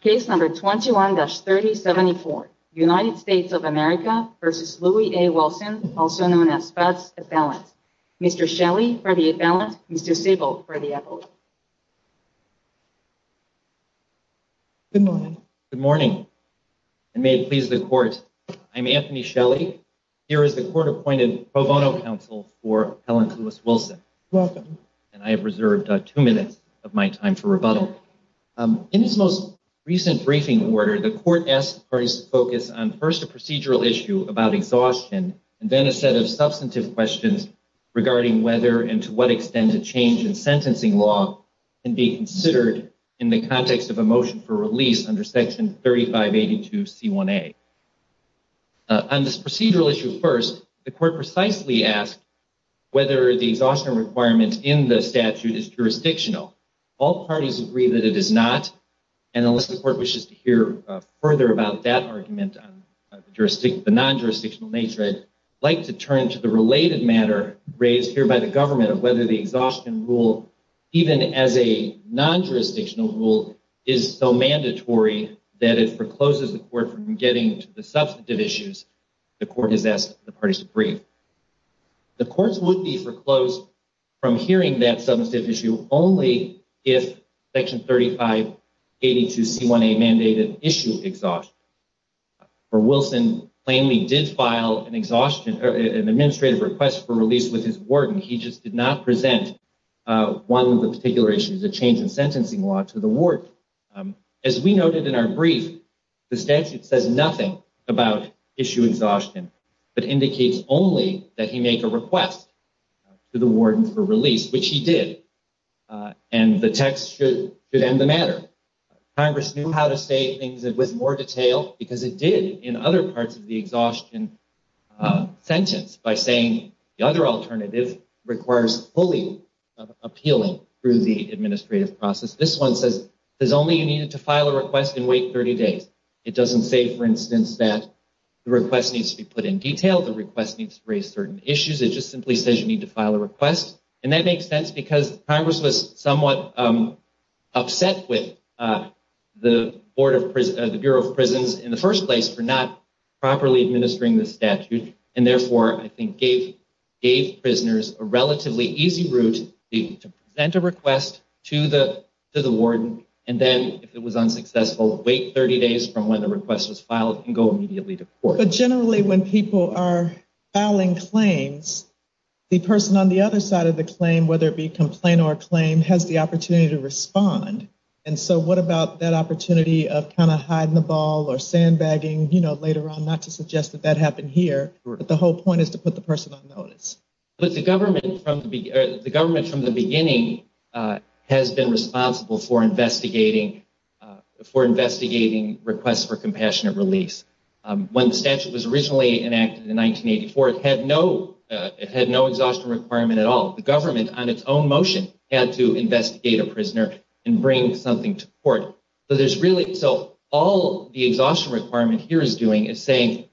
Case No. 21-3074 United States of America v. Louis A. Wilson, also known as Spatz Appellant. Mr. Shelley for the appellant, Mr. Siebel for the appellant. Good morning. Good morning, and may it please the court. I'm Anthony Shelley. Here is the court-appointed pro bono counsel for Appellant Louis Wilson. Welcome. And I have reserved two minutes of my time for rebuttal. In his most recent briefing order, the court asked the parties to focus on first a procedural issue about exhaustion, and then a set of substantive questions regarding whether and to what extent a change in sentencing law can be considered in the context of a motion for release under Section 3582 C1A. On this procedural issue first, the court precisely asked whether the exhaustion requirement in the statute is jurisdictional. All parties agree that it is not, and unless the court wishes to hear further about that argument on the non-jurisdictional nature, I'd like to turn to the related matter raised here by the government of whether the exhaustion rule, even as a non-jurisdictional rule, is so mandatory that it forecloses the court from getting to the substantive issues the court has asked the parties to brief. The courts would be foreclosed from hearing that substantive issue only if Section 3582 C1A mandated issue exhaustion. For Wilson, plainly did file an administrative request for release with his warden. He just did not present one of the particular issues, a change in sentencing law, to the warden. As we noted in our brief, the statute says nothing about issue exhaustion, but indicates only that he make a request to the warden for release, which he did. And the text should end the matter. Congress knew how to say things with more detail because it did in other parts of the exhaustion sentence by saying the other alternative requires fully appealing through the administrative process. This one says only you need to file a request and wait 30 days. It doesn't say, for instance, that the request needs to be put in detail, the request needs to raise certain issues. It just simply says you need to file a request. And that makes sense because Congress was somewhat upset with the Bureau of Prisons in the first place for not properly administering the statute, and therefore, I think, gave prisoners a relatively easy route to present a request to the warden and then, if it was unsuccessful, wait 30 days from when the request was filed and go immediately to court. But generally, when people are filing claims, the person on the other side of the claim, whether it be complaint or a claim, has the opportunity to respond. And so what about that opportunity of kind of hiding the ball or sandbagging later on, not to suggest that that happened here, but the whole point is to put the person on notice? The government from the beginning has been responsible for investigating requests for compassionate release. When the statute was originally enacted in 1984, it had no exhaustion requirement at all. The government, on its own motion, had to investigate a prisoner and bring something to court. So all the exhaustion requirement here is doing is saying,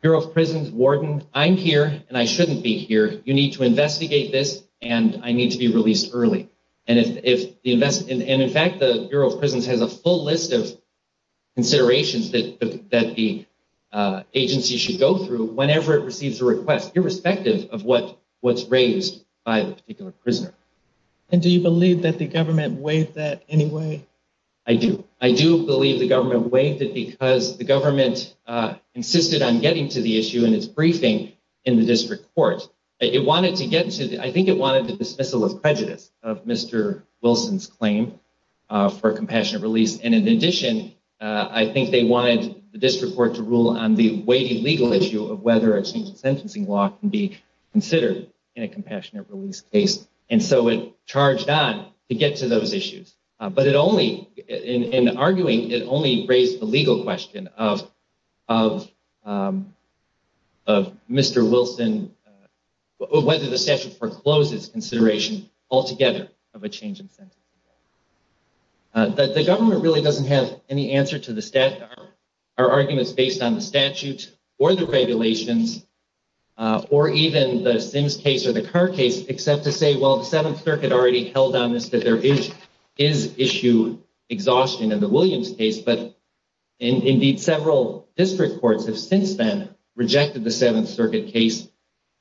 Bureau of Prisons, warden, I'm here, and I shouldn't be here. You need to investigate this, and I need to be released early. And, in fact, the Bureau of Prisons has a full list of considerations that the agency should go through whenever it receives a request, irrespective of what's raised by the particular prisoner. And do you believe that the government waived that anyway? I do. I do believe the government waived it because the government insisted on getting to the issue in its briefing in the district court. I think it wanted the dismissal of prejudice of Mr. Wilson's claim for compassionate release. And in addition, I think they wanted the district court to rule on the weighty legal issue of whether a change in sentencing law can be considered in a compassionate release case. And so it charged on to get to those issues. But in arguing, it only raised the legal question of Mr. Wilson, whether the statute foreclosed its consideration altogether of a change in sentencing law. The government really doesn't have any answer to our arguments based on the statute or the regulations or even the Sims case or the Carr case except to say, well, the Seventh Circuit already held on this, that there is issue exhaustion in the Williams case. But indeed, several district courts have since then rejected the Seventh Circuit case.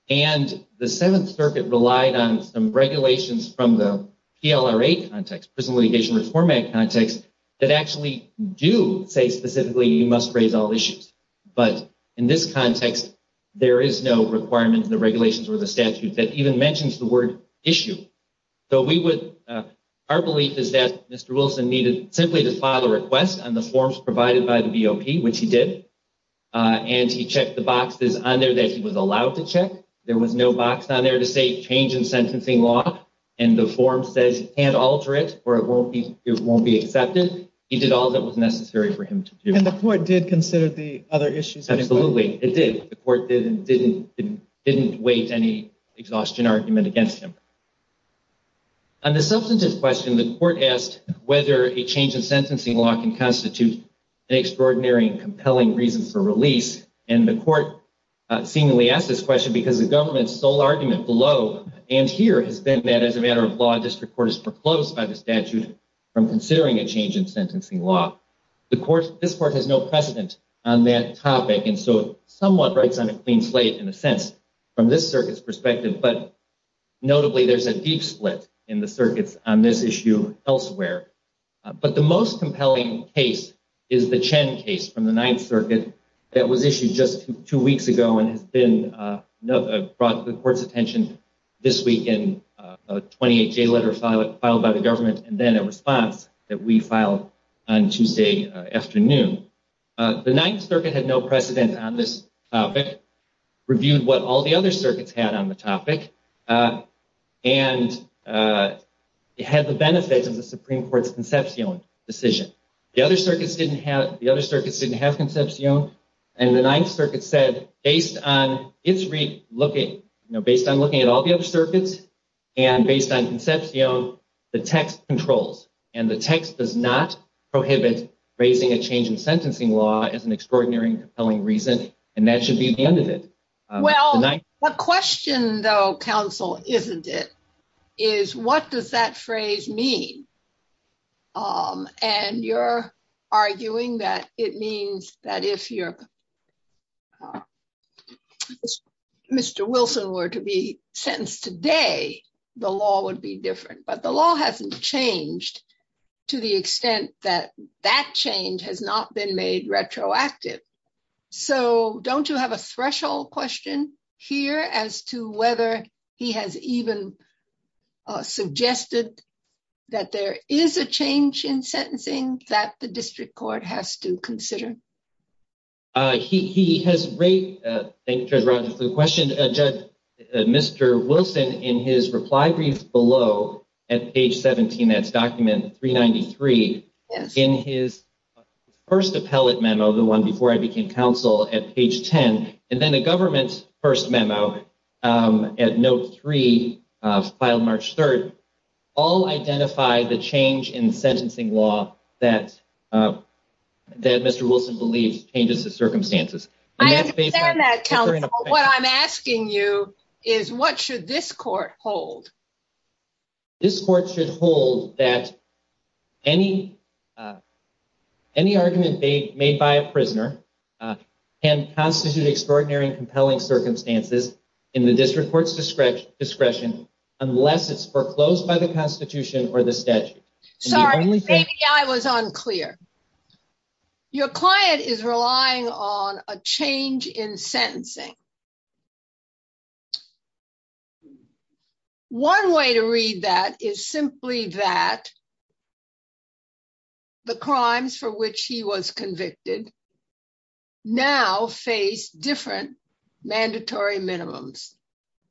And the Seventh Circuit relied on some regulations from the PLRA context, Prison Litigation Reform Act context, that actually do say specifically you must raise all issues. But in this context, there is no requirement in the regulations or the statute that even mentions the word issue. Our belief is that Mr. Wilson needed simply to file a request on the forms provided by the BOP, which he did. And he checked the boxes on there that he was allowed to check. There was no box on there to say change in sentencing law. And the form says you can't alter it or it won't be accepted. He did all that was necessary for him to do. And the court did consider the other issues? Absolutely, it did. The court did and didn't wait any exhaustion argument against him. On the substantive question, the court asked whether a change in sentencing law can constitute an extraordinary and compelling reason for release. And the court seemingly asked this question because the government's sole argument below and here has been that as a matter of law, a district court is proclosed by the statute from considering a change in sentencing law. This court has no precedent on that topic. And so it somewhat breaks on a clean slate in a sense from this circuit's perspective. But notably, there's a deep split in the circuits on this issue elsewhere. But the most compelling case is the Chen case from the Ninth Circuit that was issued just two weeks ago and has been brought to the court's attention this week in a 28-J letter filed by the government and then a response that we filed on Tuesday afternoon. The Ninth Circuit had no precedent on this topic, reviewed what all the other circuits had on the topic, and had the benefits of the Supreme Court's conception decision. The other circuits didn't have conception. And the Ninth Circuit said, based on its re-looking, based on looking at all the other circuits and based on conception, the text controls and the text does not prohibit raising a change in sentencing law as an extraordinary and compelling reason. And that should be the end of it. Well, the question, though, counsel, isn't it? Is what does that phrase mean? And you're arguing that it means that if you're Mr. Wilson were to be sentenced today, the law would be different. But the law hasn't changed to the extent that that change has not been made retroactive. So don't you have a threshold question here as to whether he has even suggested that there is a change in sentencing that the district court has to consider? He has raised the question, Judge, Mr. Wilson, in his reply brief below at page 17, that's document 393. Yes. In his first appellate memo, the one before I became counsel at page 10, and then the government's first memo at note three filed March 3rd, all identify the change in sentencing law that that Mr. Wilson believes changes the circumstances. I understand that. What I'm asking you is what should this court hold? This court should hold that any. Any argument made by a prisoner and constitute extraordinary and compelling circumstances in the district court's discretion, discretion unless it's foreclosed by the Constitution or the statute. Sorry, I was unclear. Your client is relying on a change in sentencing. One way to read that is simply that the crimes for which he was convicted now face different mandatory minimums,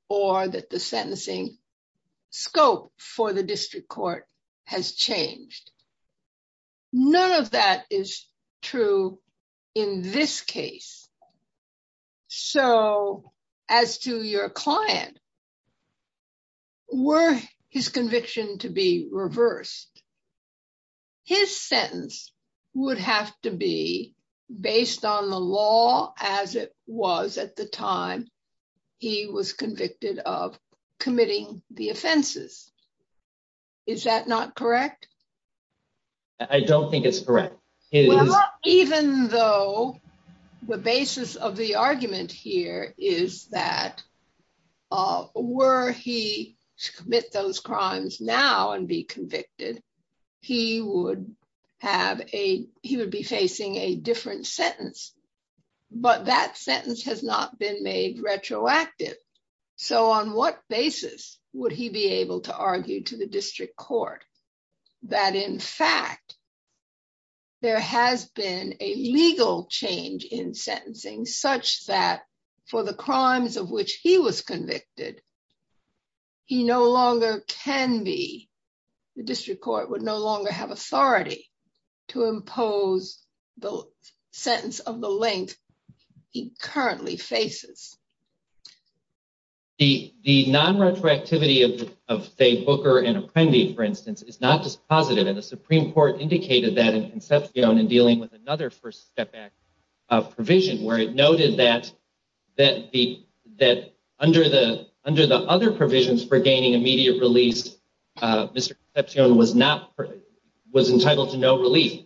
or that the sentencing scope for the district court has changed. None of that is true in this case. So, as to your client, were his conviction to be reversed. His sentence would have to be based on the law, as it was at the time. He was convicted of committing the offenses. Is that not correct. I don't think it's correct. Even though the basis of the argument here is that were he commit those crimes now and be convicted. He would have a, he would be facing a different sentence, but that sentence has not been made retroactive. So on what basis, would he be able to argue to the district court that in fact, there has been a legal change in sentencing such that for the crimes of which he was convicted. He no longer can be the district court would no longer have authority to impose the sentence of the length. He currently faces the, the non retroactivity of, of say Booker and apprendee, for instance, it's not just positive and the Supreme Court indicated that in conception and dealing with another first step back of provision where it noted that, that the, that under the, under the other provisions for gaining immediate release. Mr. was not was entitled to no relief,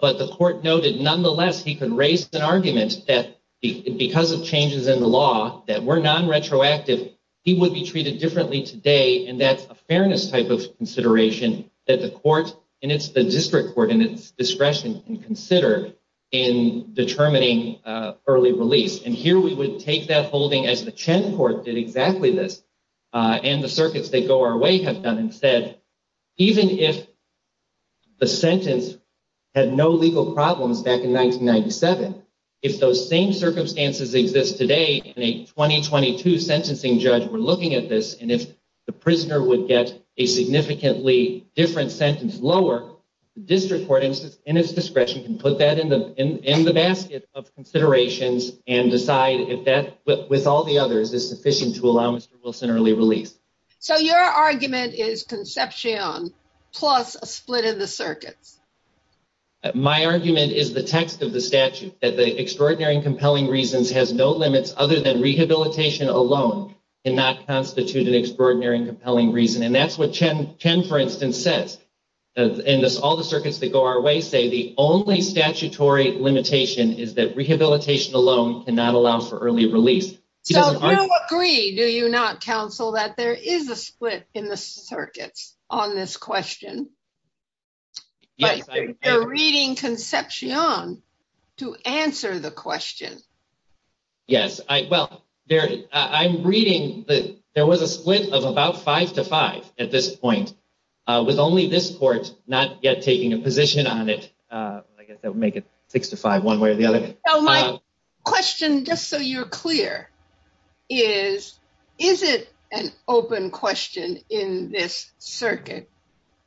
but the court noted. Nonetheless, he could raise an argument that because of changes in the law that were non retroactive. He would be treated differently today. And that's a fairness type of consideration that the court and it's the district court and it's discretion and consider in determining early release. And here we would take that holding as the Chen court did exactly this and the circuits that go our way have done instead. Even if the sentence had no legal problems back in 1997, if those same circumstances exist today in a 2022 sentencing judge, we're looking at this. And if the prisoner would get a significantly different sentence lower district court and it's discretion can put that in the, in the basket of considerations and decide if that with all the others is sufficient to allow Mr. Wilson early release. So your argument is conception plus a split in the circuits. My argument is the text of the statute that the extraordinary and compelling reasons has no limits other than rehabilitation alone and not constitute an extraordinary and compelling reason. And that's what Chen Chen, for instance, says, and all the circuits that go our way say the only statutory limitation is that rehabilitation alone cannot allow for early release. Do you agree, do you not counsel that there is a split in the circuits on this question. Reading conception to answer the question. Yes, I well, there, I'm reading that there was a split of about five to five, at this point, with only this court, not yet taking a position on it. I guess that would make it six to five one way or the other. Question just so you're clear, is, is it an open question in this circuit,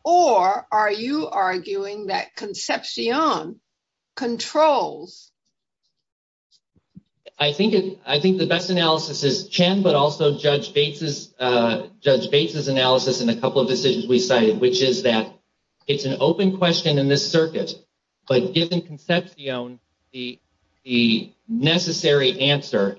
or are you arguing that conception controls. I think I think the best analysis is Chen, but also Judge Bates's, Judge Bates's analysis in a couple of decisions we cited, which is that it's an open question in this circuit. But given conception, the necessary answer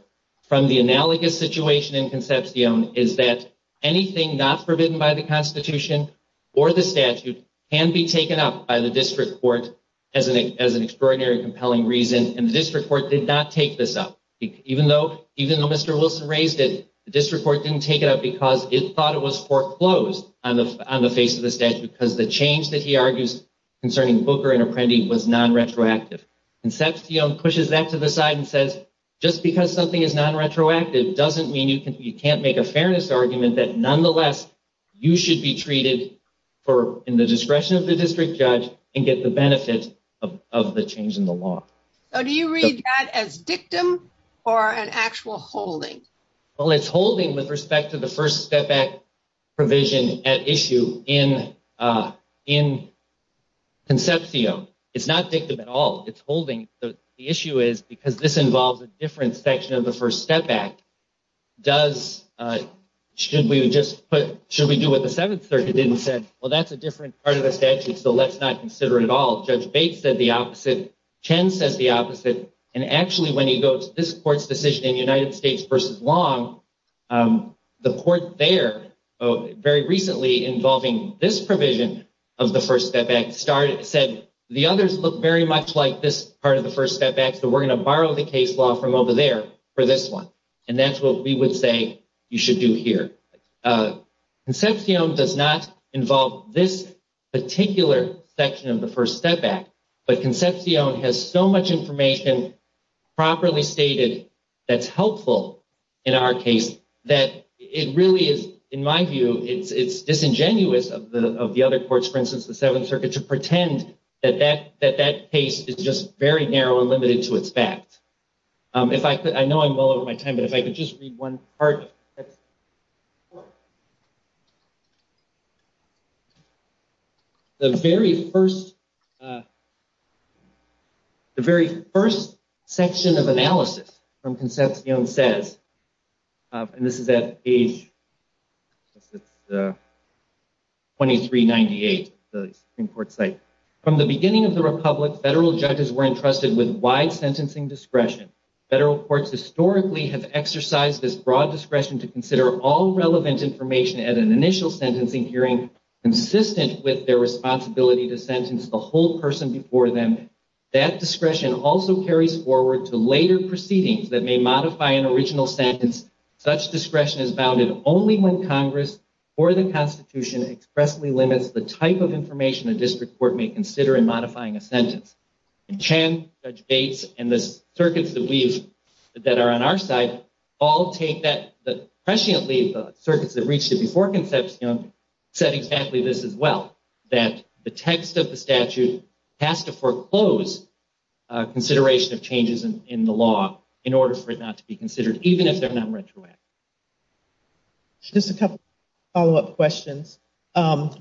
from the analogous situation in conception is that anything not forbidden by the Constitution or the statute can be taken up by the district court as an as an extraordinary compelling reason. And the district court did not take this up, even though even though Mr. Wilson raised it, the district court didn't take it up because it thought it was foreclosed on the on the face of the stage because the change that he argues. Do you read that as dictum or an actual holding? Well, it's holding with respect to the First Step Act provision at issue in, in conceptio. It's not dictum at all. It's holding. The issue is because this involves a different section of the First Step Act. Does, should we just put, should we do what the Seventh Circuit did and said, well, that's a different part of the statute, so let's not consider it at all. Judge Bates said the opposite. Chen says the opposite. And actually, when you go to this court's decision in United States versus Long, the court there very recently involving this provision of the First Step Act started, said the others look very much like this part of the First Step Act. So we're going to borrow the case law from over there for this one. And that's what we would say you should do here. Concepcion does not involve this particular section of the First Step Act. But Concepcion has so much information properly stated that's helpful in our case that it really is, in my view, it's disingenuous of the other courts, for instance, the Seventh Circuit, to pretend that that case is just very narrow and limited to its facts. If I could, I know I'm well over my time, but if I could just read one part. The very first, the very first section of analysis from Concepcion says, and this is at age 2398, the Supreme Court site. From the beginning of the Republic, federal judges were entrusted with wide sentencing discretion. Federal courts historically have exercised this broad discretion to consider all relevant information at an initial sentencing hearing consistent with their responsibility to sentence the whole person before them. That discretion also carries forward to later proceedings that may modify an original sentence. Such discretion is bounded only when Congress or the Constitution expressly limits the type of information a district court may consider in modifying a sentence. Chan, Judge Bates, and the circuits that are on our side all take that, presciently, the circuits that reached it before Concepcion said exactly this as well, that the text of the statute has to foreclose consideration of changes in the law in order for it not to be considered, even if they're not retroactive. Just a couple of follow-up questions.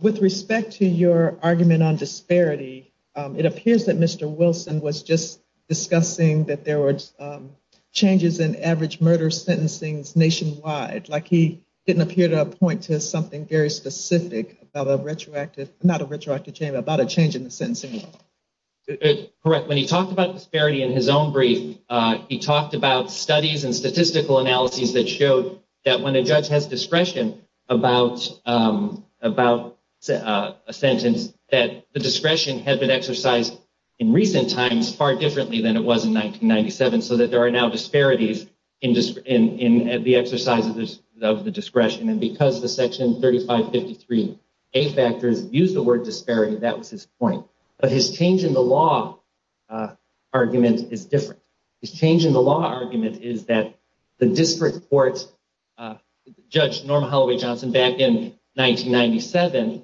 With respect to your argument on disparity, it appears that Mr. Wilson was just discussing that there were changes in average murder sentencing nationwide. Like, he didn't appear to point to something very specific about a retroactive, not a retroactive change, but about a change in the sentencing. Correct. When he talked about disparity in his own brief, he talked about studies and statistical analyses that showed that when a judge has discretion about a sentence, that the discretion had been exercised in recent times far differently than it was in 1997, so that there are now disparities in the exercise of the discretion. And because the Section 3553A factors use the word disparity, that was his point. But his change in the law argument is different. His change in the law argument is that the district court, Judge Norma Holloway Johnson, back in 1997,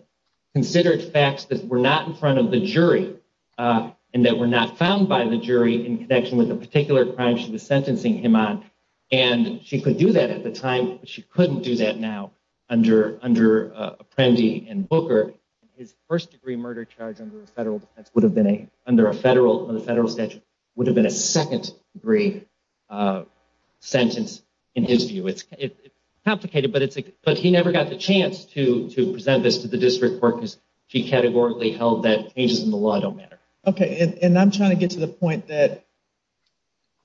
considered facts that were not in front of the jury and that were not found by the jury in connection with a particular crime she was sentencing him on. And she could do that at the time, but she couldn't do that now under Apprendi and Booker. His first-degree murder charge under a federal statute would have been a second-degree sentence in his view. It's complicated, but he never got the chance to present this to the district court because she categorically held that changes in the law don't matter. Okay, and I'm trying to get to the point that,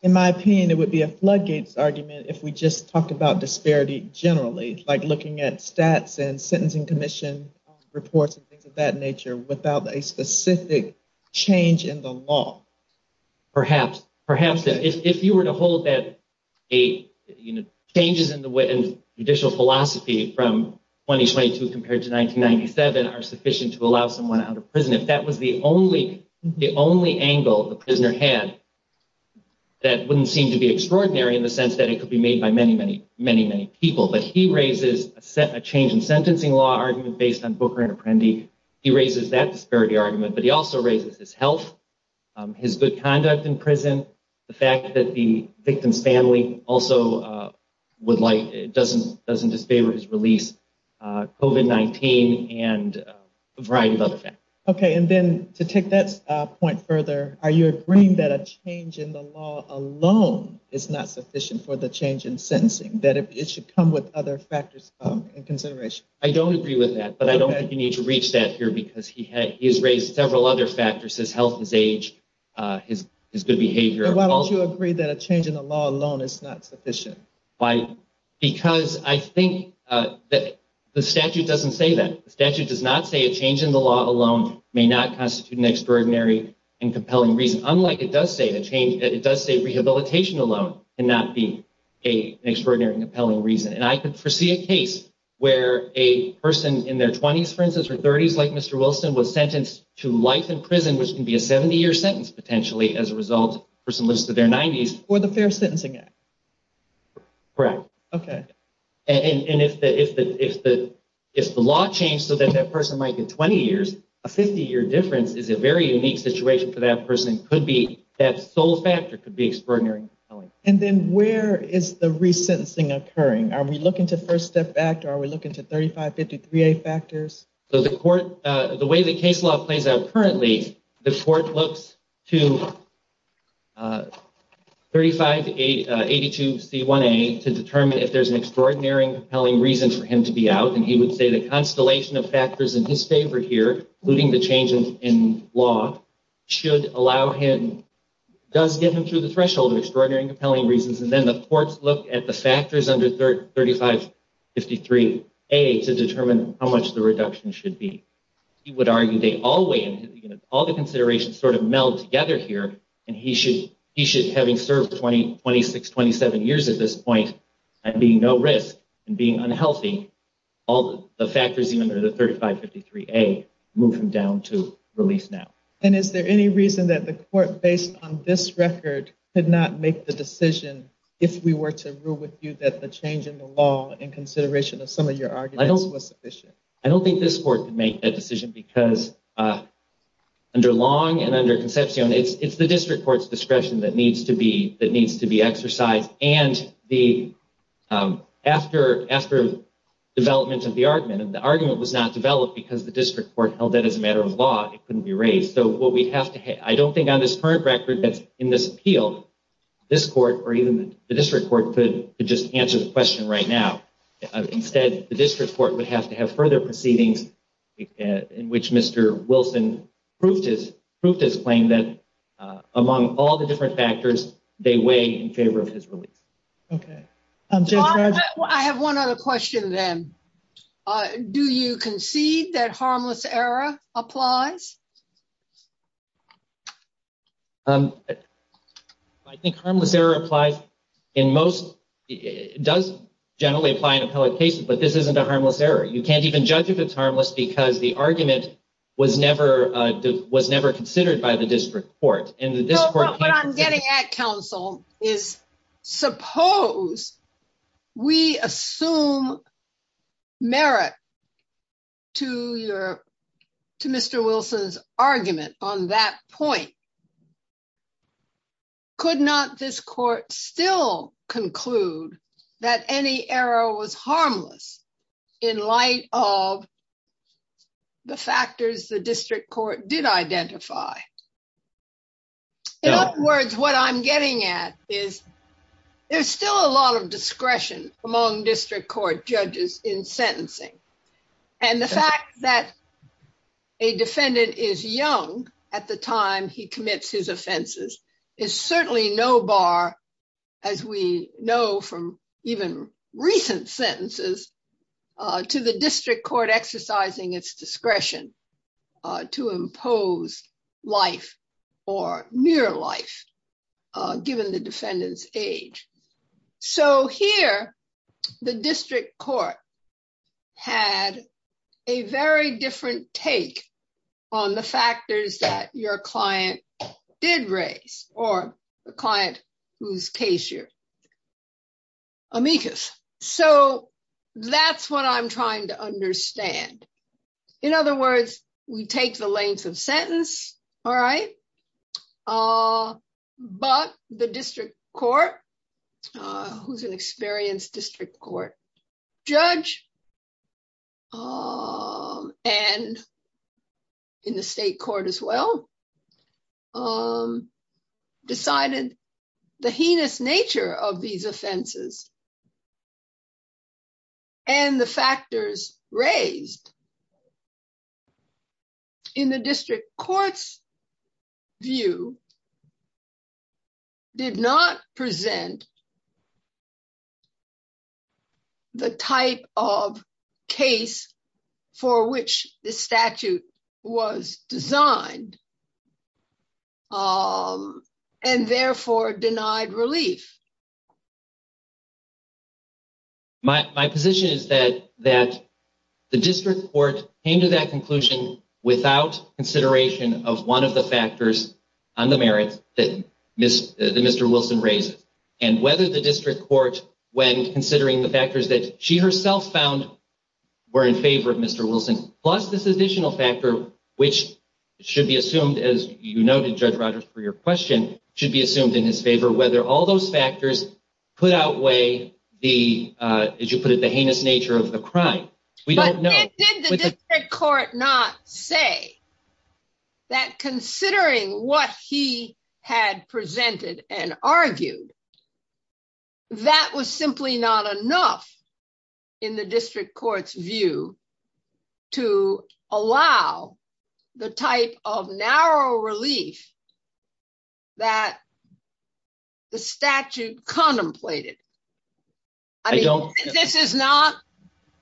in my opinion, it would be a floodgates argument if we just talked about disparity generally, like looking at stats and sentencing commission reports and things of that nature without a specific change in the law. Perhaps, if you were to hold that changes in judicial philosophy from 2022 compared to 1997 are sufficient to allow someone out of prison, if that was the only angle the prisoner had, that wouldn't seem to be extraordinary in the sense that it could be made by many, many people. But he raises a change in sentencing law argument based on Booker and Apprendi. He raises that disparity argument, but he also raises his health, his good conduct in prison, the fact that the victim's family also doesn't disfavor his release, COVID-19, and a variety of other factors. Okay, and then to take that point further, are you agreeing that a change in the law alone is not sufficient for the change in sentencing, that it should come with other factors in consideration? I don't agree with that, but I don't think you need to reach that here because he has raised several other factors, his health, his age, his good behavior. Why don't you agree that a change in the law alone is not sufficient? Because I think that the statute doesn't say that. The statute does not say a change in the law alone may not constitute an extraordinary and compelling reason, unlike it does say rehabilitation alone cannot be an extraordinary and compelling reason. And I could foresee a case where a person in their 20s, for instance, or 30s, like Mr. Wilson, was sentenced to life in prison, which can be a 70-year sentence, potentially, as a result, a person lives to their 90s. Correct. Okay. And if the law changed so that that person might get 20 years, a 50-year difference is a very unique situation for that person. That sole factor could be extraordinary and compelling. And then where is the resentencing occurring? Are we looking to First Step Act, or are we looking to 3553A factors? So the way the case law plays out currently, the court looks to 3582C1A to determine if there's an extraordinary and compelling reason for him to be out. And he would say the constellation of factors in his favor here, including the change in law, should allow him, does get him through the threshold of extraordinary and compelling reasons. And then the courts look at the factors under 3553A to determine how much the reduction should be. He would argue they all weigh in, all the considerations sort of meld together here, and he should, having served 26, 27 years at this point, and being no risk, and being unhealthy, all the factors, even under the 3553A, move him down to release now. And is there any reason that the court, based on this record, could not make the decision if we were to rule with you that the change in the law, in consideration of some of your arguments, was sufficient? I don't think this court could make that decision because under Long and under Concepcion, it's the district court's discretion that needs to be exercised. And after development of the argument, and the argument was not developed because the district court held that as a matter of law, it couldn't be raised. So what we'd have to, I don't think on this current record that's in this appeal, this court or even the district court could just answer the question right now. Instead, the district court would have to have further proceedings in which Mr. Wilson proved his claim that among all the different factors, they weigh in favor of his release. Okay. I have one other question then. Do you concede that harmless error applies? I think harmless error applies in most, it does generally apply in appellate cases, but this isn't a harmless error. You can't even judge if it's harmless because the argument was never considered by the district court. What I'm getting at, counsel, is suppose we assume merit to your, to Mr. Wilson's argument on that point. Could not this court still conclude that any error was harmless in light of the factors the district court did identify? In other words, what I'm getting at is there's still a lot of discretion among district court judges in sentencing. And the fact that a defendant is young at the time he commits his offenses is certainly no bar, as we know from even recent sentences, to the district court exercising its discretion to impose life or near life, given the defendant's age. So here, the district court had a very different take on the factors that your client did raise, or the client whose case you're amicus. So that's what I'm trying to understand. In other words, we take the length of sentence. All right. But the district court, who's an experienced district court judge, and in the state court as well, decided the heinous nature of these offenses and the factors raised. In the district court's view, did not present the type of case for which the statute was designed, and therefore denied relief. My position is that the district court came to that conclusion without consideration of one of the factors on the merits that Mr. Wilson raises. And whether the district court, when considering the factors that she herself found were in favor of Mr. Wilson, plus this additional factor, which should be assumed, as you noted, Judge Rogers, for your question, should be assumed in his favor. Whether all those factors put outweigh the, as you put it, the heinous nature of the crime. But did the district court not say that considering what he had presented and argued, that was simply not enough in the district court's view to allow the type of narrow relief that the statute contemplated? This is not,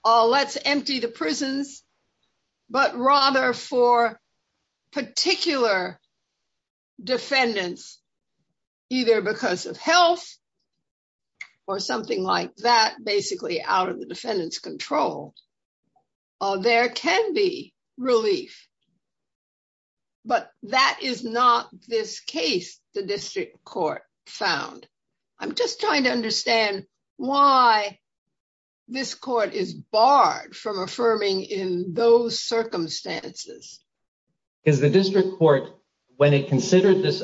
let's empty the prisons, but rather for particular defendants, either because of health or something like that, basically out of the defendant's control, there can be relief. But that is not this case the district court found. I'm just trying to understand why this court is barred from affirming in those circumstances. Because the district court, when it considered this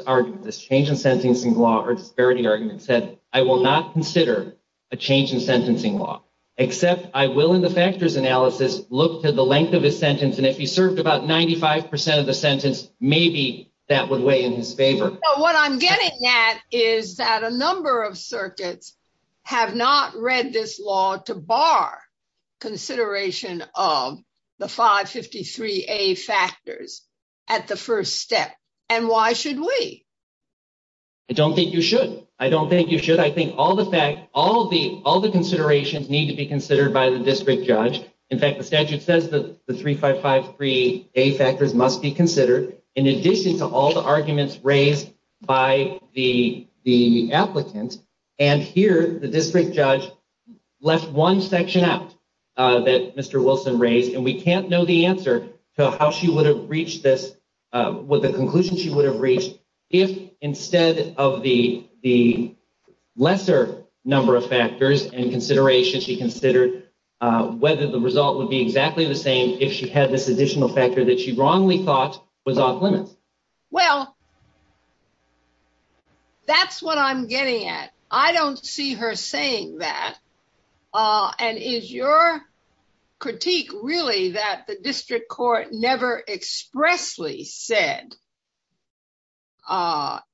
change in sentencing law or disparity argument, said, I will not consider a change in sentencing law, except I will, in the factors analysis, look to the length of his sentence. And if he served about 95% of the sentence, maybe that would weigh in his favor. But what I'm getting at is that a number of circuits have not read this law to bar consideration of the 553A factors at the first step. And why should we? I don't think you should. I don't think you should. I think all the considerations need to be considered by the district judge. In fact, the statute says that the 3553A factors must be considered, in addition to all the arguments raised by the applicant. And here, the district judge left one section out that Mr. Wilson raised, and we can't know the answer to how she would have reached this, what the conclusion she would have reached, if instead of the lesser number of factors and consideration, she considered whether the result would be exactly the same if she had this additional factor that she wrongly thought was off limits. Well, that's what I'm getting at. I don't see her saying that. And is your critique really that the district court never expressly said,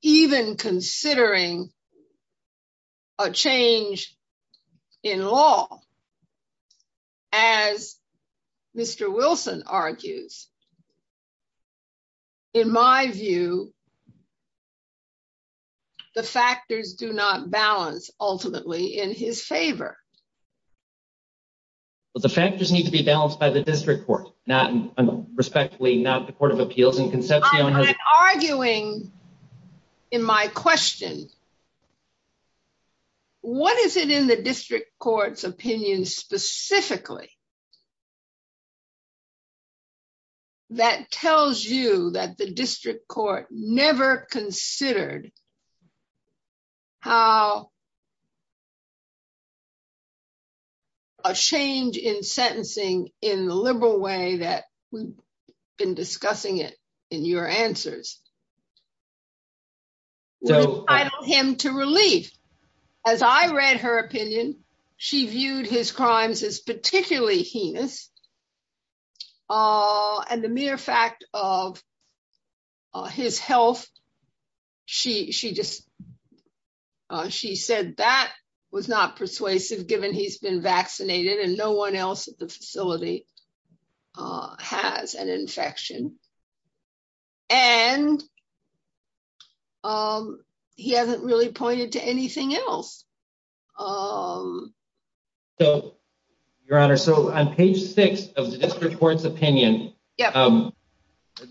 even considering a change in law? As Mr. Wilson argues, in my view, the factors do not balance, ultimately, in his favor. But the factors need to be balanced by the district court, not, respectfully, not the Court of Appeals and Concepcion. I'm arguing in my question, what is it in the district court's opinion, specifically, that tells you that the district court never considered how a change in sentencing in the liberal way that we've been discussing it in your answer? Well, I don't know. She said that was not persuasive, given he's been vaccinated and no one else at the facility has an infection. And he hasn't really pointed to anything else. So, Your Honor, so on page six of the district court's opinion, the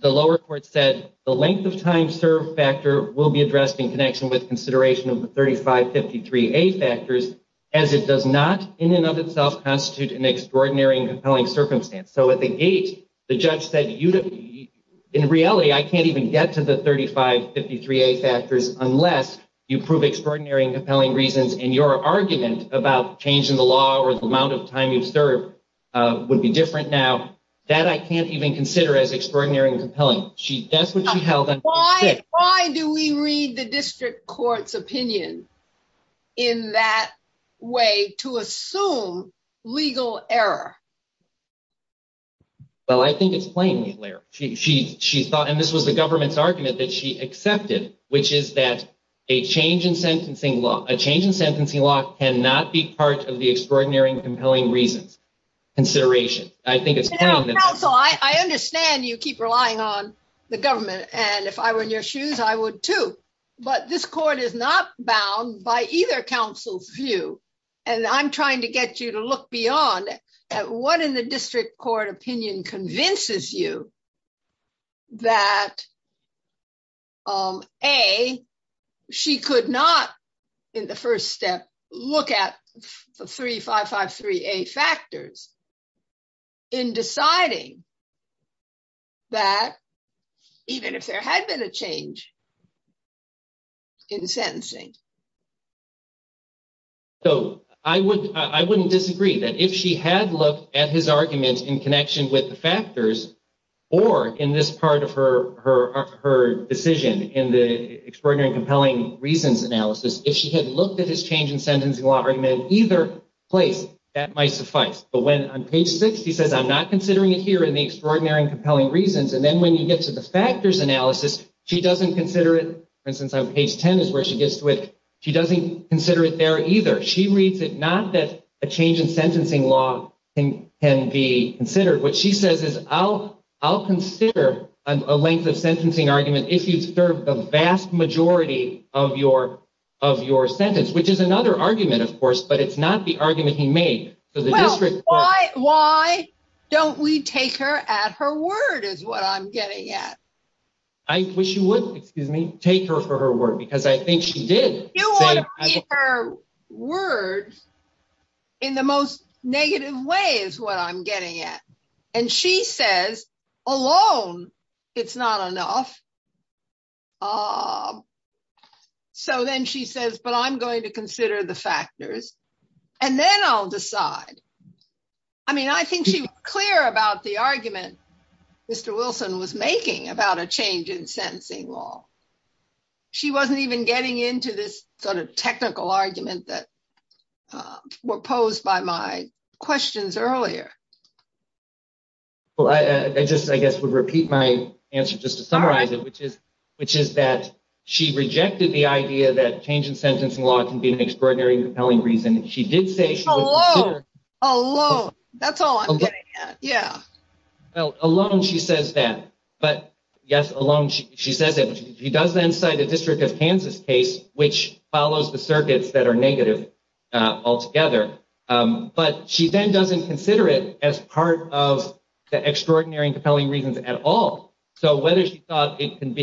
lower court said the length of time served factor will be addressed in connection with consideration of the 3553A factors, as it does not in and of itself constitute an extraordinary and compelling circumstance. So, at the gate, the judge said, in reality, I can't even get to the 3553A factors unless you prove extraordinary and compelling reasons. And your argument about change in the law or the amount of time you've served would be different now. That I can't even consider as extraordinary and compelling. That's what she held on page six. Why do we read the district court's opinion in that way to assume legal error? Well, I think it's plainly clear. She thought, and this was the government's argument that she accepted, which is that a change in sentencing law, a change in sentencing law cannot be part of the extraordinary and compelling reasons consideration. Counsel, I understand you keep relying on the government. And if I were in your shoes, I would too. But this court is not bound by either counsel's view. And I'm trying to get you to look beyond at what in the district court opinion convinces you that, A, she could not, in the first step, look at the 3553A factors in deciding that even if there had been a change in sentencing. So I wouldn't disagree that if she had looked at his argument in connection with the factors or in this part of her decision in the extraordinary and compelling reasons analysis, if she had looked at his change in sentencing law argument in either place, that might suffice. But when on page six, he says, I'm not considering it here in the extraordinary and compelling reasons. And then when you get to the factors analysis, she doesn't consider it. For instance, on page 10 is where she gets to it. She doesn't consider it there either. She reads it not that a change in sentencing law can be considered. What she says is, I'll consider a length of sentencing argument if you observe the vast majority of your sentence, which is another argument, of course. But it's not the argument he made. Well, why don't we take her at her word is what I'm getting at. I wish you would, excuse me, take her for her word because I think she did. Her words in the most negative way is what I'm getting at. And she says, alone, it's not enough. So then she says, but I'm going to consider the factors. And then I'll decide. I mean, I think she was clear about the argument Mr. Wilson was making about a change in sentencing law. She wasn't even getting into this sort of technical argument that were posed by my questions earlier. Well, I just, I guess, would repeat my answer just to summarize it, which is, which is that she rejected the idea that change in sentencing law can be an extraordinary compelling reason. She did say alone. That's all I'm getting. Yeah. Alone, she says that. But, yes, alone, she says it. She does then cite a district of Kansas case, which follows the circuits that are negative altogether. But she then doesn't consider it as part of the extraordinary compelling reasons at all. So whether she thought it couldn't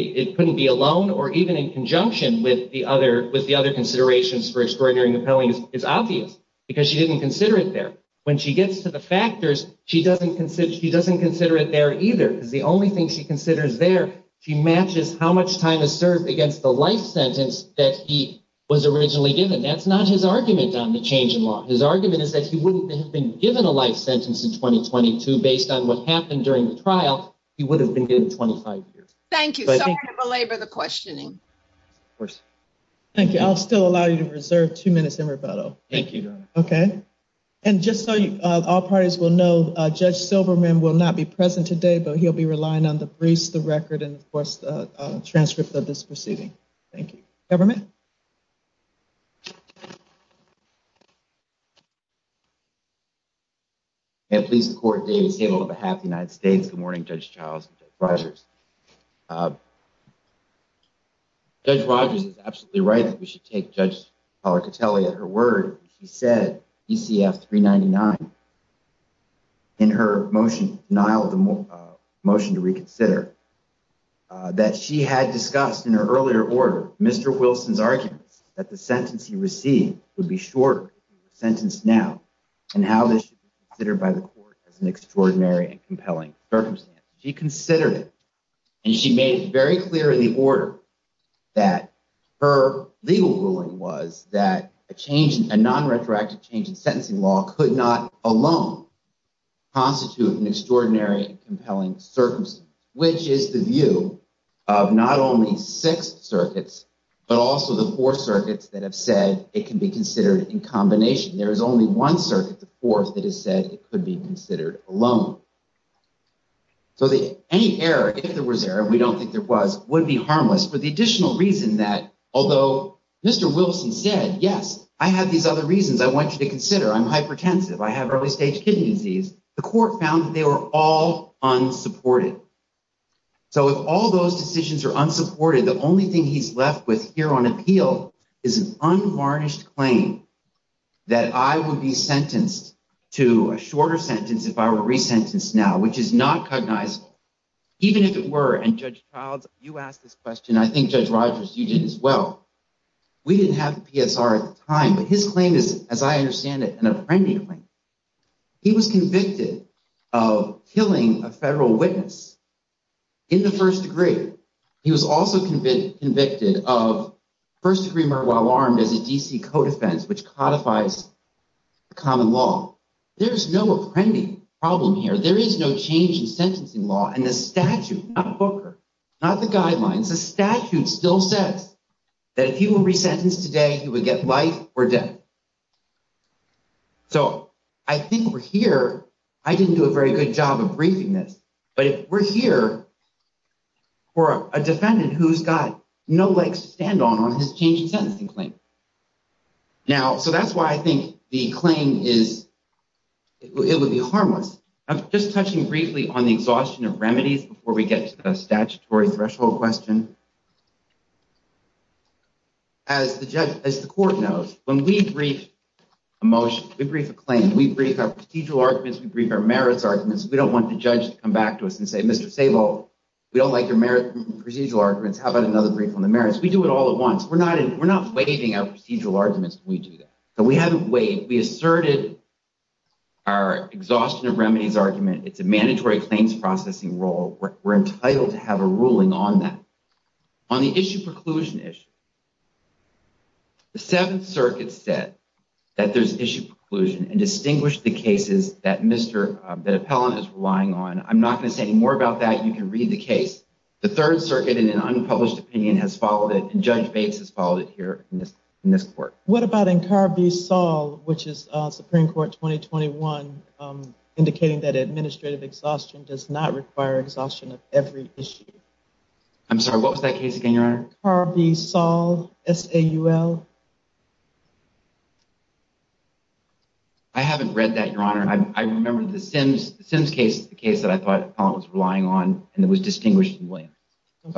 be alone or even in conjunction with the other considerations for extraordinary compelling is obvious, because she didn't consider it there. When she gets to the factors, she doesn't consider it there either, because the only thing she considers there, she matches how much time is served against the life sentence that he was originally given. That's not his argument on the change in law. His argument is that he wouldn't have been given a life sentence in twenty twenty two based on what happened during the trial. He would have been given twenty five years. Thank you. The questioning. Thank you. I'll still allow you to reserve two minutes in rebuttal. Thank you. OK. And just so all parties will know, Judge Silverman will not be present today, but he'll be relying on the briefs, the record and the transcript of this proceeding. Thank you, government. And please, the court is able to have the United States. Good morning, Judge Charles Rogers. Judge Rogers is absolutely right. We should take Judge Cotelli at her word. She said, you see, three ninety nine. In her motion, Nyle, the motion to reconsider that she had discussed in her earlier order, Mr. Wilson's arguments that the sentence he received would be short sentence now and how this should be considered by the court as an extraordinary and compelling circumstance. And she made it very clear in the order that her legal ruling was that a change, a non retroactive change in sentencing law could not alone constitute an extraordinary and compelling circumstance, which is the view of not only six circuits, but also the four circuits that have said it can be considered in combination. There is only one circuit, the fourth, that has said it could be considered alone. So any error, if there was error, we don't think there was, would be harmless for the additional reason that although Mr. Wilson said, yes, I have these other reasons I want you to consider, I'm hypertensive, I have early stage kidney disease. The court found they were all unsupported. So if all those decisions are unsupported, the only thing he's left with here on appeal is an unvarnished claim that I would be sentenced to a shorter sentence if I were resentenced now, which is not cognizable, even if it were. And Judge Childs, you asked this question. I think Judge Rogers, you did as well. We didn't have the PSR at the time, but his claim is, as I understand it, an apprendee. He was convicted of killing a federal witness in the first degree. He was also convicted of first degree murder while armed as a D.C. co-defense, which codifies common law. There is no apprendee problem here. There is no change in sentencing law. And the statute, not Booker, not the guidelines, the statute still says that if you were resentenced today, you would get life or death. So I think we're here. I didn't do a very good job of briefing this, but we're here for a defendant who's got no legs to stand on on his change in sentencing claim. Now, so that's why I think the claim is it would be harmless. Just touching briefly on the exhaustion of remedies before we get to the statutory threshold question. As the judge, as the court knows, when we brief a motion, we brief a claim, we brief our procedural arguments, we brief our merits arguments. We don't want the judge to come back to us and say, Mr. Sable, we don't like your merit procedural arguments. How about another brief on the merits? We do it all at once. We're not we're not waiving our procedural arguments. We do that. So we haven't waived. We asserted our exhaustion of remedies argument. It's a mandatory claims processing role. We're entitled to have a ruling on that on the issue preclusion issue. The Seventh Circuit said that there's issue preclusion and distinguish the cases that Mr. That appellant is relying on. I'm not going to say any more about that. You can read the case. The Third Circuit in an unpublished opinion has followed it. And Judge Bates has followed it here in this court. What about in Carbisol, which is Supreme Court twenty twenty one, indicating that administrative exhaustion does not require exhaustion of every issue? I'm sorry, what was that case again? Your honor? Carbisol. S.A.U.L. I haven't read that, your honor. I remember the Sims Sims case, the case that I thought was relying on and that was distinguished. I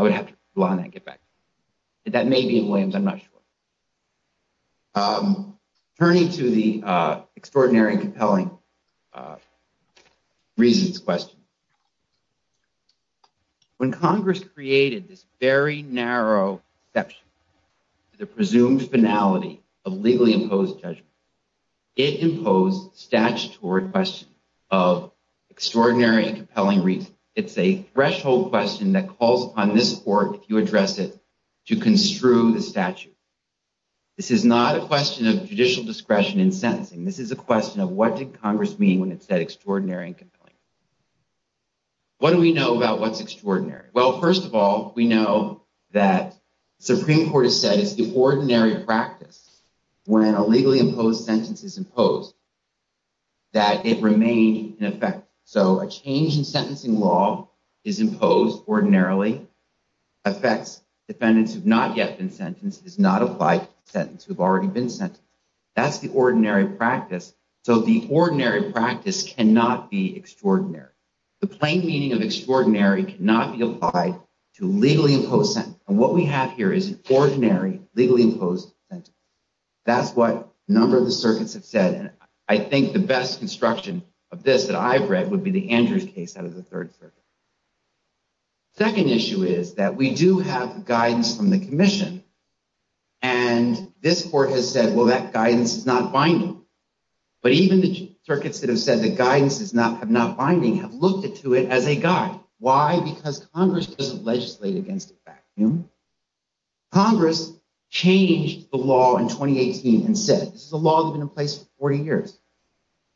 would have to get back. That may be Williams. I'm not sure. Turning to the extraordinary and compelling reasons question. When Congress created this very narrow that the presumed finality of legally imposed judgment, it imposed statutory question of extraordinary and compelling reason. It's a threshold question that calls on this court. If you address it to construe the statute. This is not a question of judicial discretion in sentencing. This is a question of what did Congress mean when it said extraordinary and compelling? What do we know about what's extraordinary? Well, first of all, we know that Supreme Court has said it's the ordinary practice when a legally imposed sentence is imposed. That it remained in effect. So a change in sentencing law is imposed ordinarily affects defendants who have not yet been sentenced is not applied sentence. We've already been sent. That's the ordinary practice. So the ordinary practice cannot be extraordinary. The plain meaning of extraordinary cannot be applied to legally imposed. And what we have here is ordinary legally imposed. That's what a number of the circuits have said. And I think the best construction of this that I've read would be the Andrews case out of the Third Circuit. Second issue is that we do have guidance from the commission. And this court has said, well, that guidance is not binding. But even the circuits that have said the guidance is not have not binding, have looked into it as a guide. Why? Because Congress doesn't legislate against it. Congress changed the law in 2018 and said this is a law that's been in place for 40 years.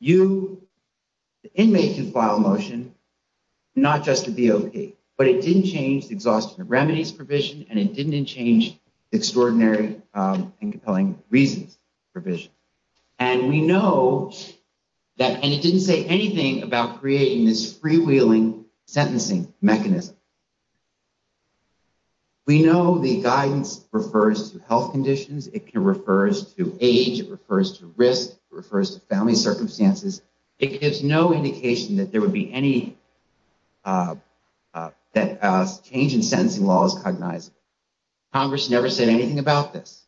You, the inmate, can file a motion not just to be okay, but it didn't change the exhaustion of remedies provision. And it didn't change extraordinary and compelling reasons provision. And we know that and it didn't say anything about creating this freewheeling sentencing mechanism. We know the guidance refers to health conditions. It can refers to age, refers to risk, refers to family circumstances. It gives no indication that there would be any change in sentencing laws cognizable. Congress never said anything about this.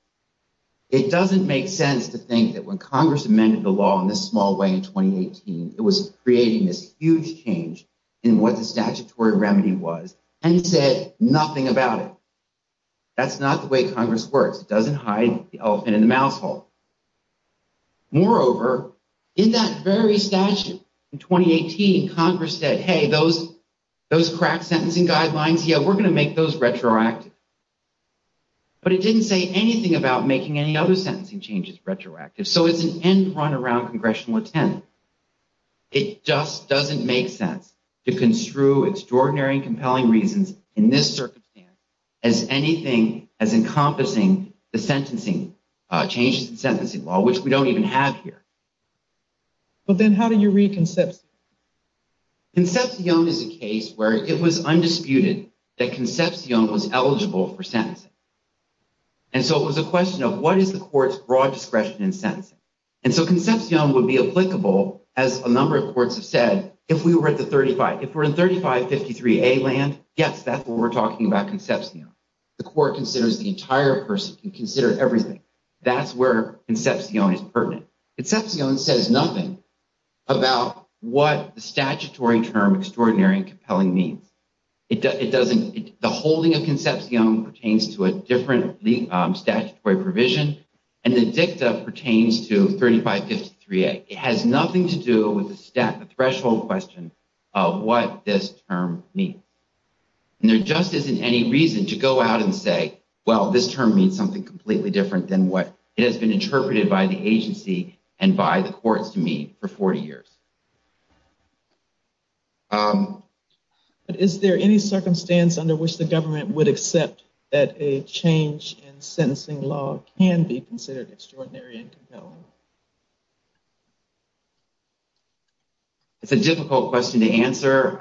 It doesn't make sense to think that when Congress amended the law in this small way in 2018, it was creating this huge change in what the statutory remedy was and said nothing about it. That's not the way Congress works. It doesn't hide the elephant in the mouth hole. Moreover, in that very statute in 2018, Congress said, hey, those cracked sentencing guidelines, yeah, we're going to make those retroactive. But it didn't say anything about making any other sentencing changes retroactive. So it's an end run around Congressional intent. It just doesn't make sense to construe extraordinary and compelling reasons in this circumstance as anything as encompassing the sentencing changes in sentencing law, which we don't even have here. But then how do you read Concepcion? Concepcion is a case where it was undisputed that Concepcion was eligible for sentencing. And so it was a question of what is the court's broad discretion in sentencing? And so Concepcion would be applicable, as a number of courts have said, if we were at the 35. If we're in 3553A land, yes, that's what we're talking about Concepcion. The court considers the entire person, can consider everything. That's where Concepcion is pertinent. Concepcion says nothing about what the statutory term extraordinary and compelling means. The holding of Concepcion pertains to a different statutory provision. And the dicta pertains to 3553A. It has nothing to do with the threshold question of what this term means. And there just isn't any reason to go out and say, well, this term means something completely different than what has been interpreted by the agency and by the courts to me for 40 years. Is there any circumstance under which the government would accept that a change in sentencing law can be considered extraordinary and compelling? It's a difficult question to answer.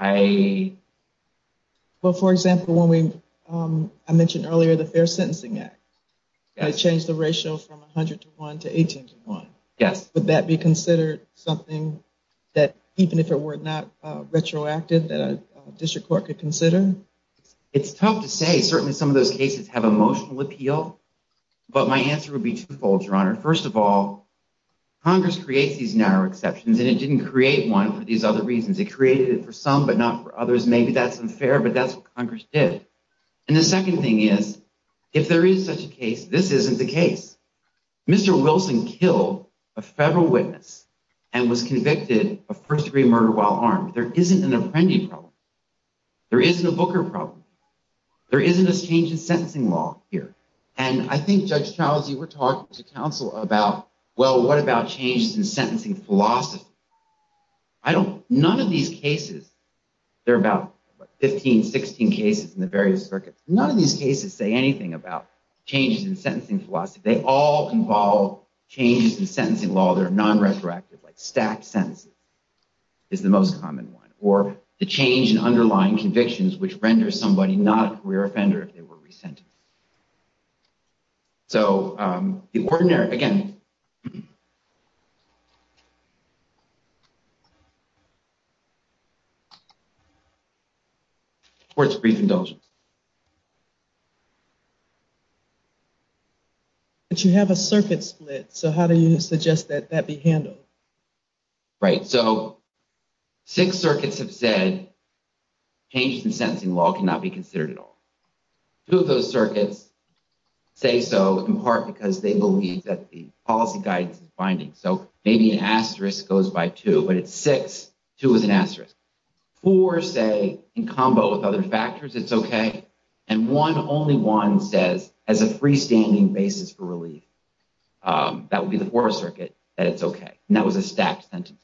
Well, for example, when we, I mentioned earlier the Fair Sentencing Act. I changed the ratio from 100 to 1 to 18 to 1. Would that be considered something that, even if it were not retroactive, that a district court could consider? It's tough to say. Certainly some of those cases have emotional appeal. But my answer would be twofold, Your Honor. First of all, Congress creates these narrow exceptions, and it didn't create one for these other reasons. It created it for some, but not for others. Maybe that's unfair, but that's what Congress did. And the second thing is, if there is such a case, this isn't the case. Mr. Wilson killed a federal witness and was convicted of first-degree murder while armed. There isn't an Apprendi problem. There isn't a Booker problem. There isn't a change in sentencing law here. And I think Judge Charles, you were talking to counsel about, well, what about changes in sentencing philosophy? I don't, none of these cases, there are about 15, 16 cases in the various circuits. None of these cases say anything about changes in sentencing philosophy. They all involve changes in sentencing law that are non-retroactive, like stacked sentences is the most common one. Or the change in underlying convictions, which renders somebody not a career offender if they were resentenced. So, the ordinary, again. Court's brief indulgence. But you have a circuit split, so how do you suggest that that be handled? Right, so, six circuits have said changes in sentencing law cannot be considered at all. Two of those circuits say so in part because they believe that the policy guidance is binding. So, maybe an asterisk goes by two, but it's six. Two is an asterisk. Four say, in combo with other factors, it's okay. And one, only one, says as a freestanding basis for relief. That would be the fourth circuit, that it's okay. And that was a stacked sentence.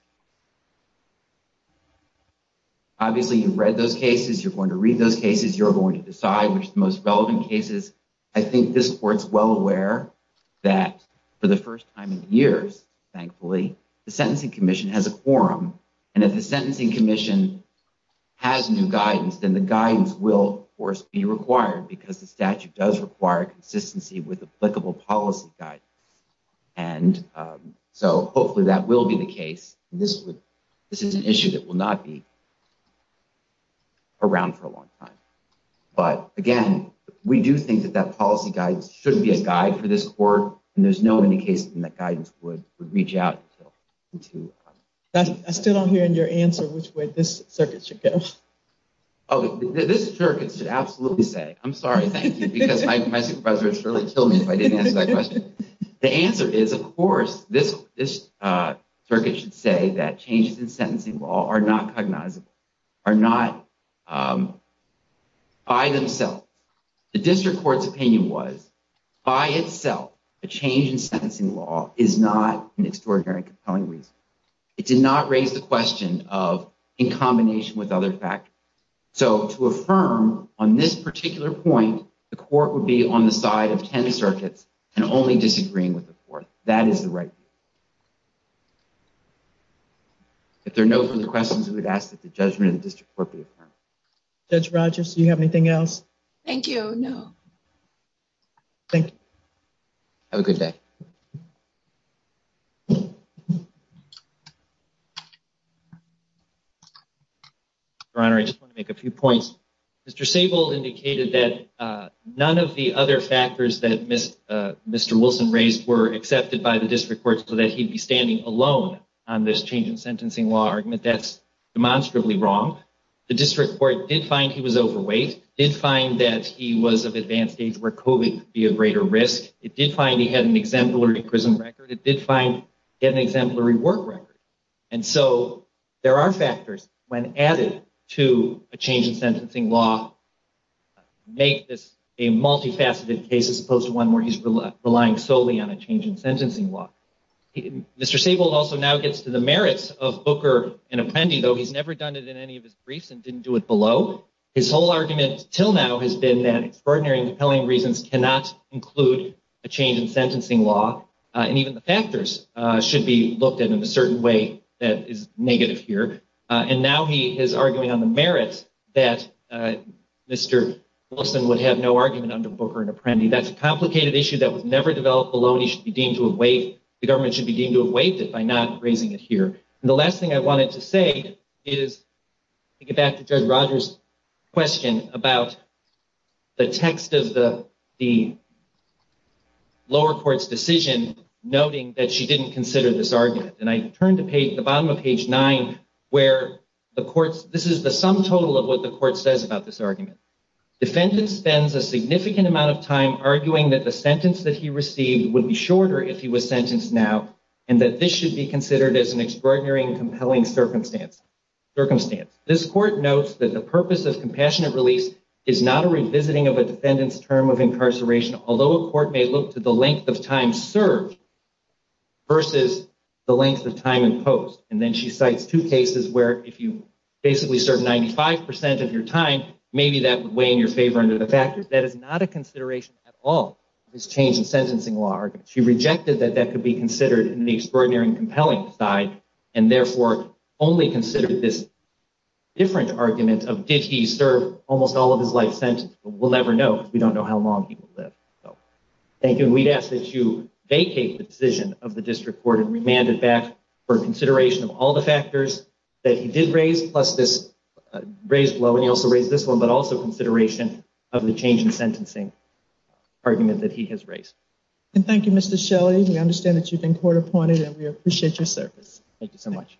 Obviously, you've read those cases. You're going to read those cases. You're going to decide which is the most relevant cases. I think this court's well aware that for the first time in years, thankfully, the Sentencing Commission has a quorum. And if the Sentencing Commission has new guidance, then the guidance will, of course, be required because the statute does require consistency with applicable policy guidance. And so, hopefully, that will be the case. This is an issue that will not be around for a long time. But, again, we do think that that policy guidance should be a guide for this court. And there's no indication that guidance would reach out. I still don't hear in your answer which way this circuit should go. Oh, this circuit should absolutely say, I'm sorry, thank you, because my supervisor would surely kill me if I didn't answer that question. The answer is, of course, this circuit should say that changes in sentencing law are not cognizable, are not by themselves. The district court's opinion was, by itself, a change in sentencing law is not an extraordinary and compelling reason. It did not raise the question of, in combination with other factors. So, to affirm on this particular point, the court would be on the side of 10 circuits and only disagreeing with the court. That is the right view. If there are no further questions, I would ask that the judgment of the district court be affirmed. Judge Rogers, do you have anything else? Thank you, no. Thank you. Have a good day. Your Honor, I just want to make a few points. Mr. Sable indicated that none of the other factors that Mr. Wilson raised were accepted by the district court, so that he'd be standing alone on this change in sentencing law argument. That's demonstrably wrong. The district court did find he was overweight, did find that he was of advanced age where COVID could be a greater risk. It did find he had an exemplary prison record. It did find he had an exemplary work record. And so, there are factors, when added to a change in sentencing law, make this a multifaceted case as opposed to one where he's relying solely on a change in sentencing law. Mr. Sable also now gets to the merits of Booker and Apprendi, though he's never done it in any of his briefs and didn't do it below. His whole argument until now has been that extraordinary and compelling reasons cannot include a change in sentencing law, and even the factors should be looked at in a certain way that is negative here. And now he is arguing on the merits that Mr. Wilson would have no argument under Booker and Apprendi. That's a complicated issue that was never developed alone. He should be deemed to have waived. The government should be deemed to have waived it by not raising it here. And the last thing I wanted to say is to get back to Judge Rogers' question about the text of the lower court's decision, noting that she didn't consider this argument. And I turn to the bottom of page 9 where the court's – this is the sum total of what the court says about this argument. Defendant spends a significant amount of time arguing that the sentence that he received would be shorter if he was sentenced now and that this should be considered as an extraordinary and compelling circumstance. This court notes that the purpose of compassionate release is not a revisiting of a defendant's term of incarceration, although a court may look to the length of time served versus the length of time imposed. And then she cites two cases where if you basically served 95 percent of your time, maybe that would weigh in your favor under the factors. That is not a consideration at all of his change in sentencing law argument. She rejected that that could be considered in the extraordinary and compelling side and therefore only considered this different argument of did he serve almost all of his life sentence. We'll never know because we don't know how long he will live. Thank you. And we'd ask that you vacate the decision of the district court and remand it back for consideration of all the factors that he did raise, plus this raise below and he also raised this one, but also consideration of the change in sentencing argument that he has raised. And thank you, Mr. Shelley. We understand that you've been court appointed and we appreciate your service. Thank you so much.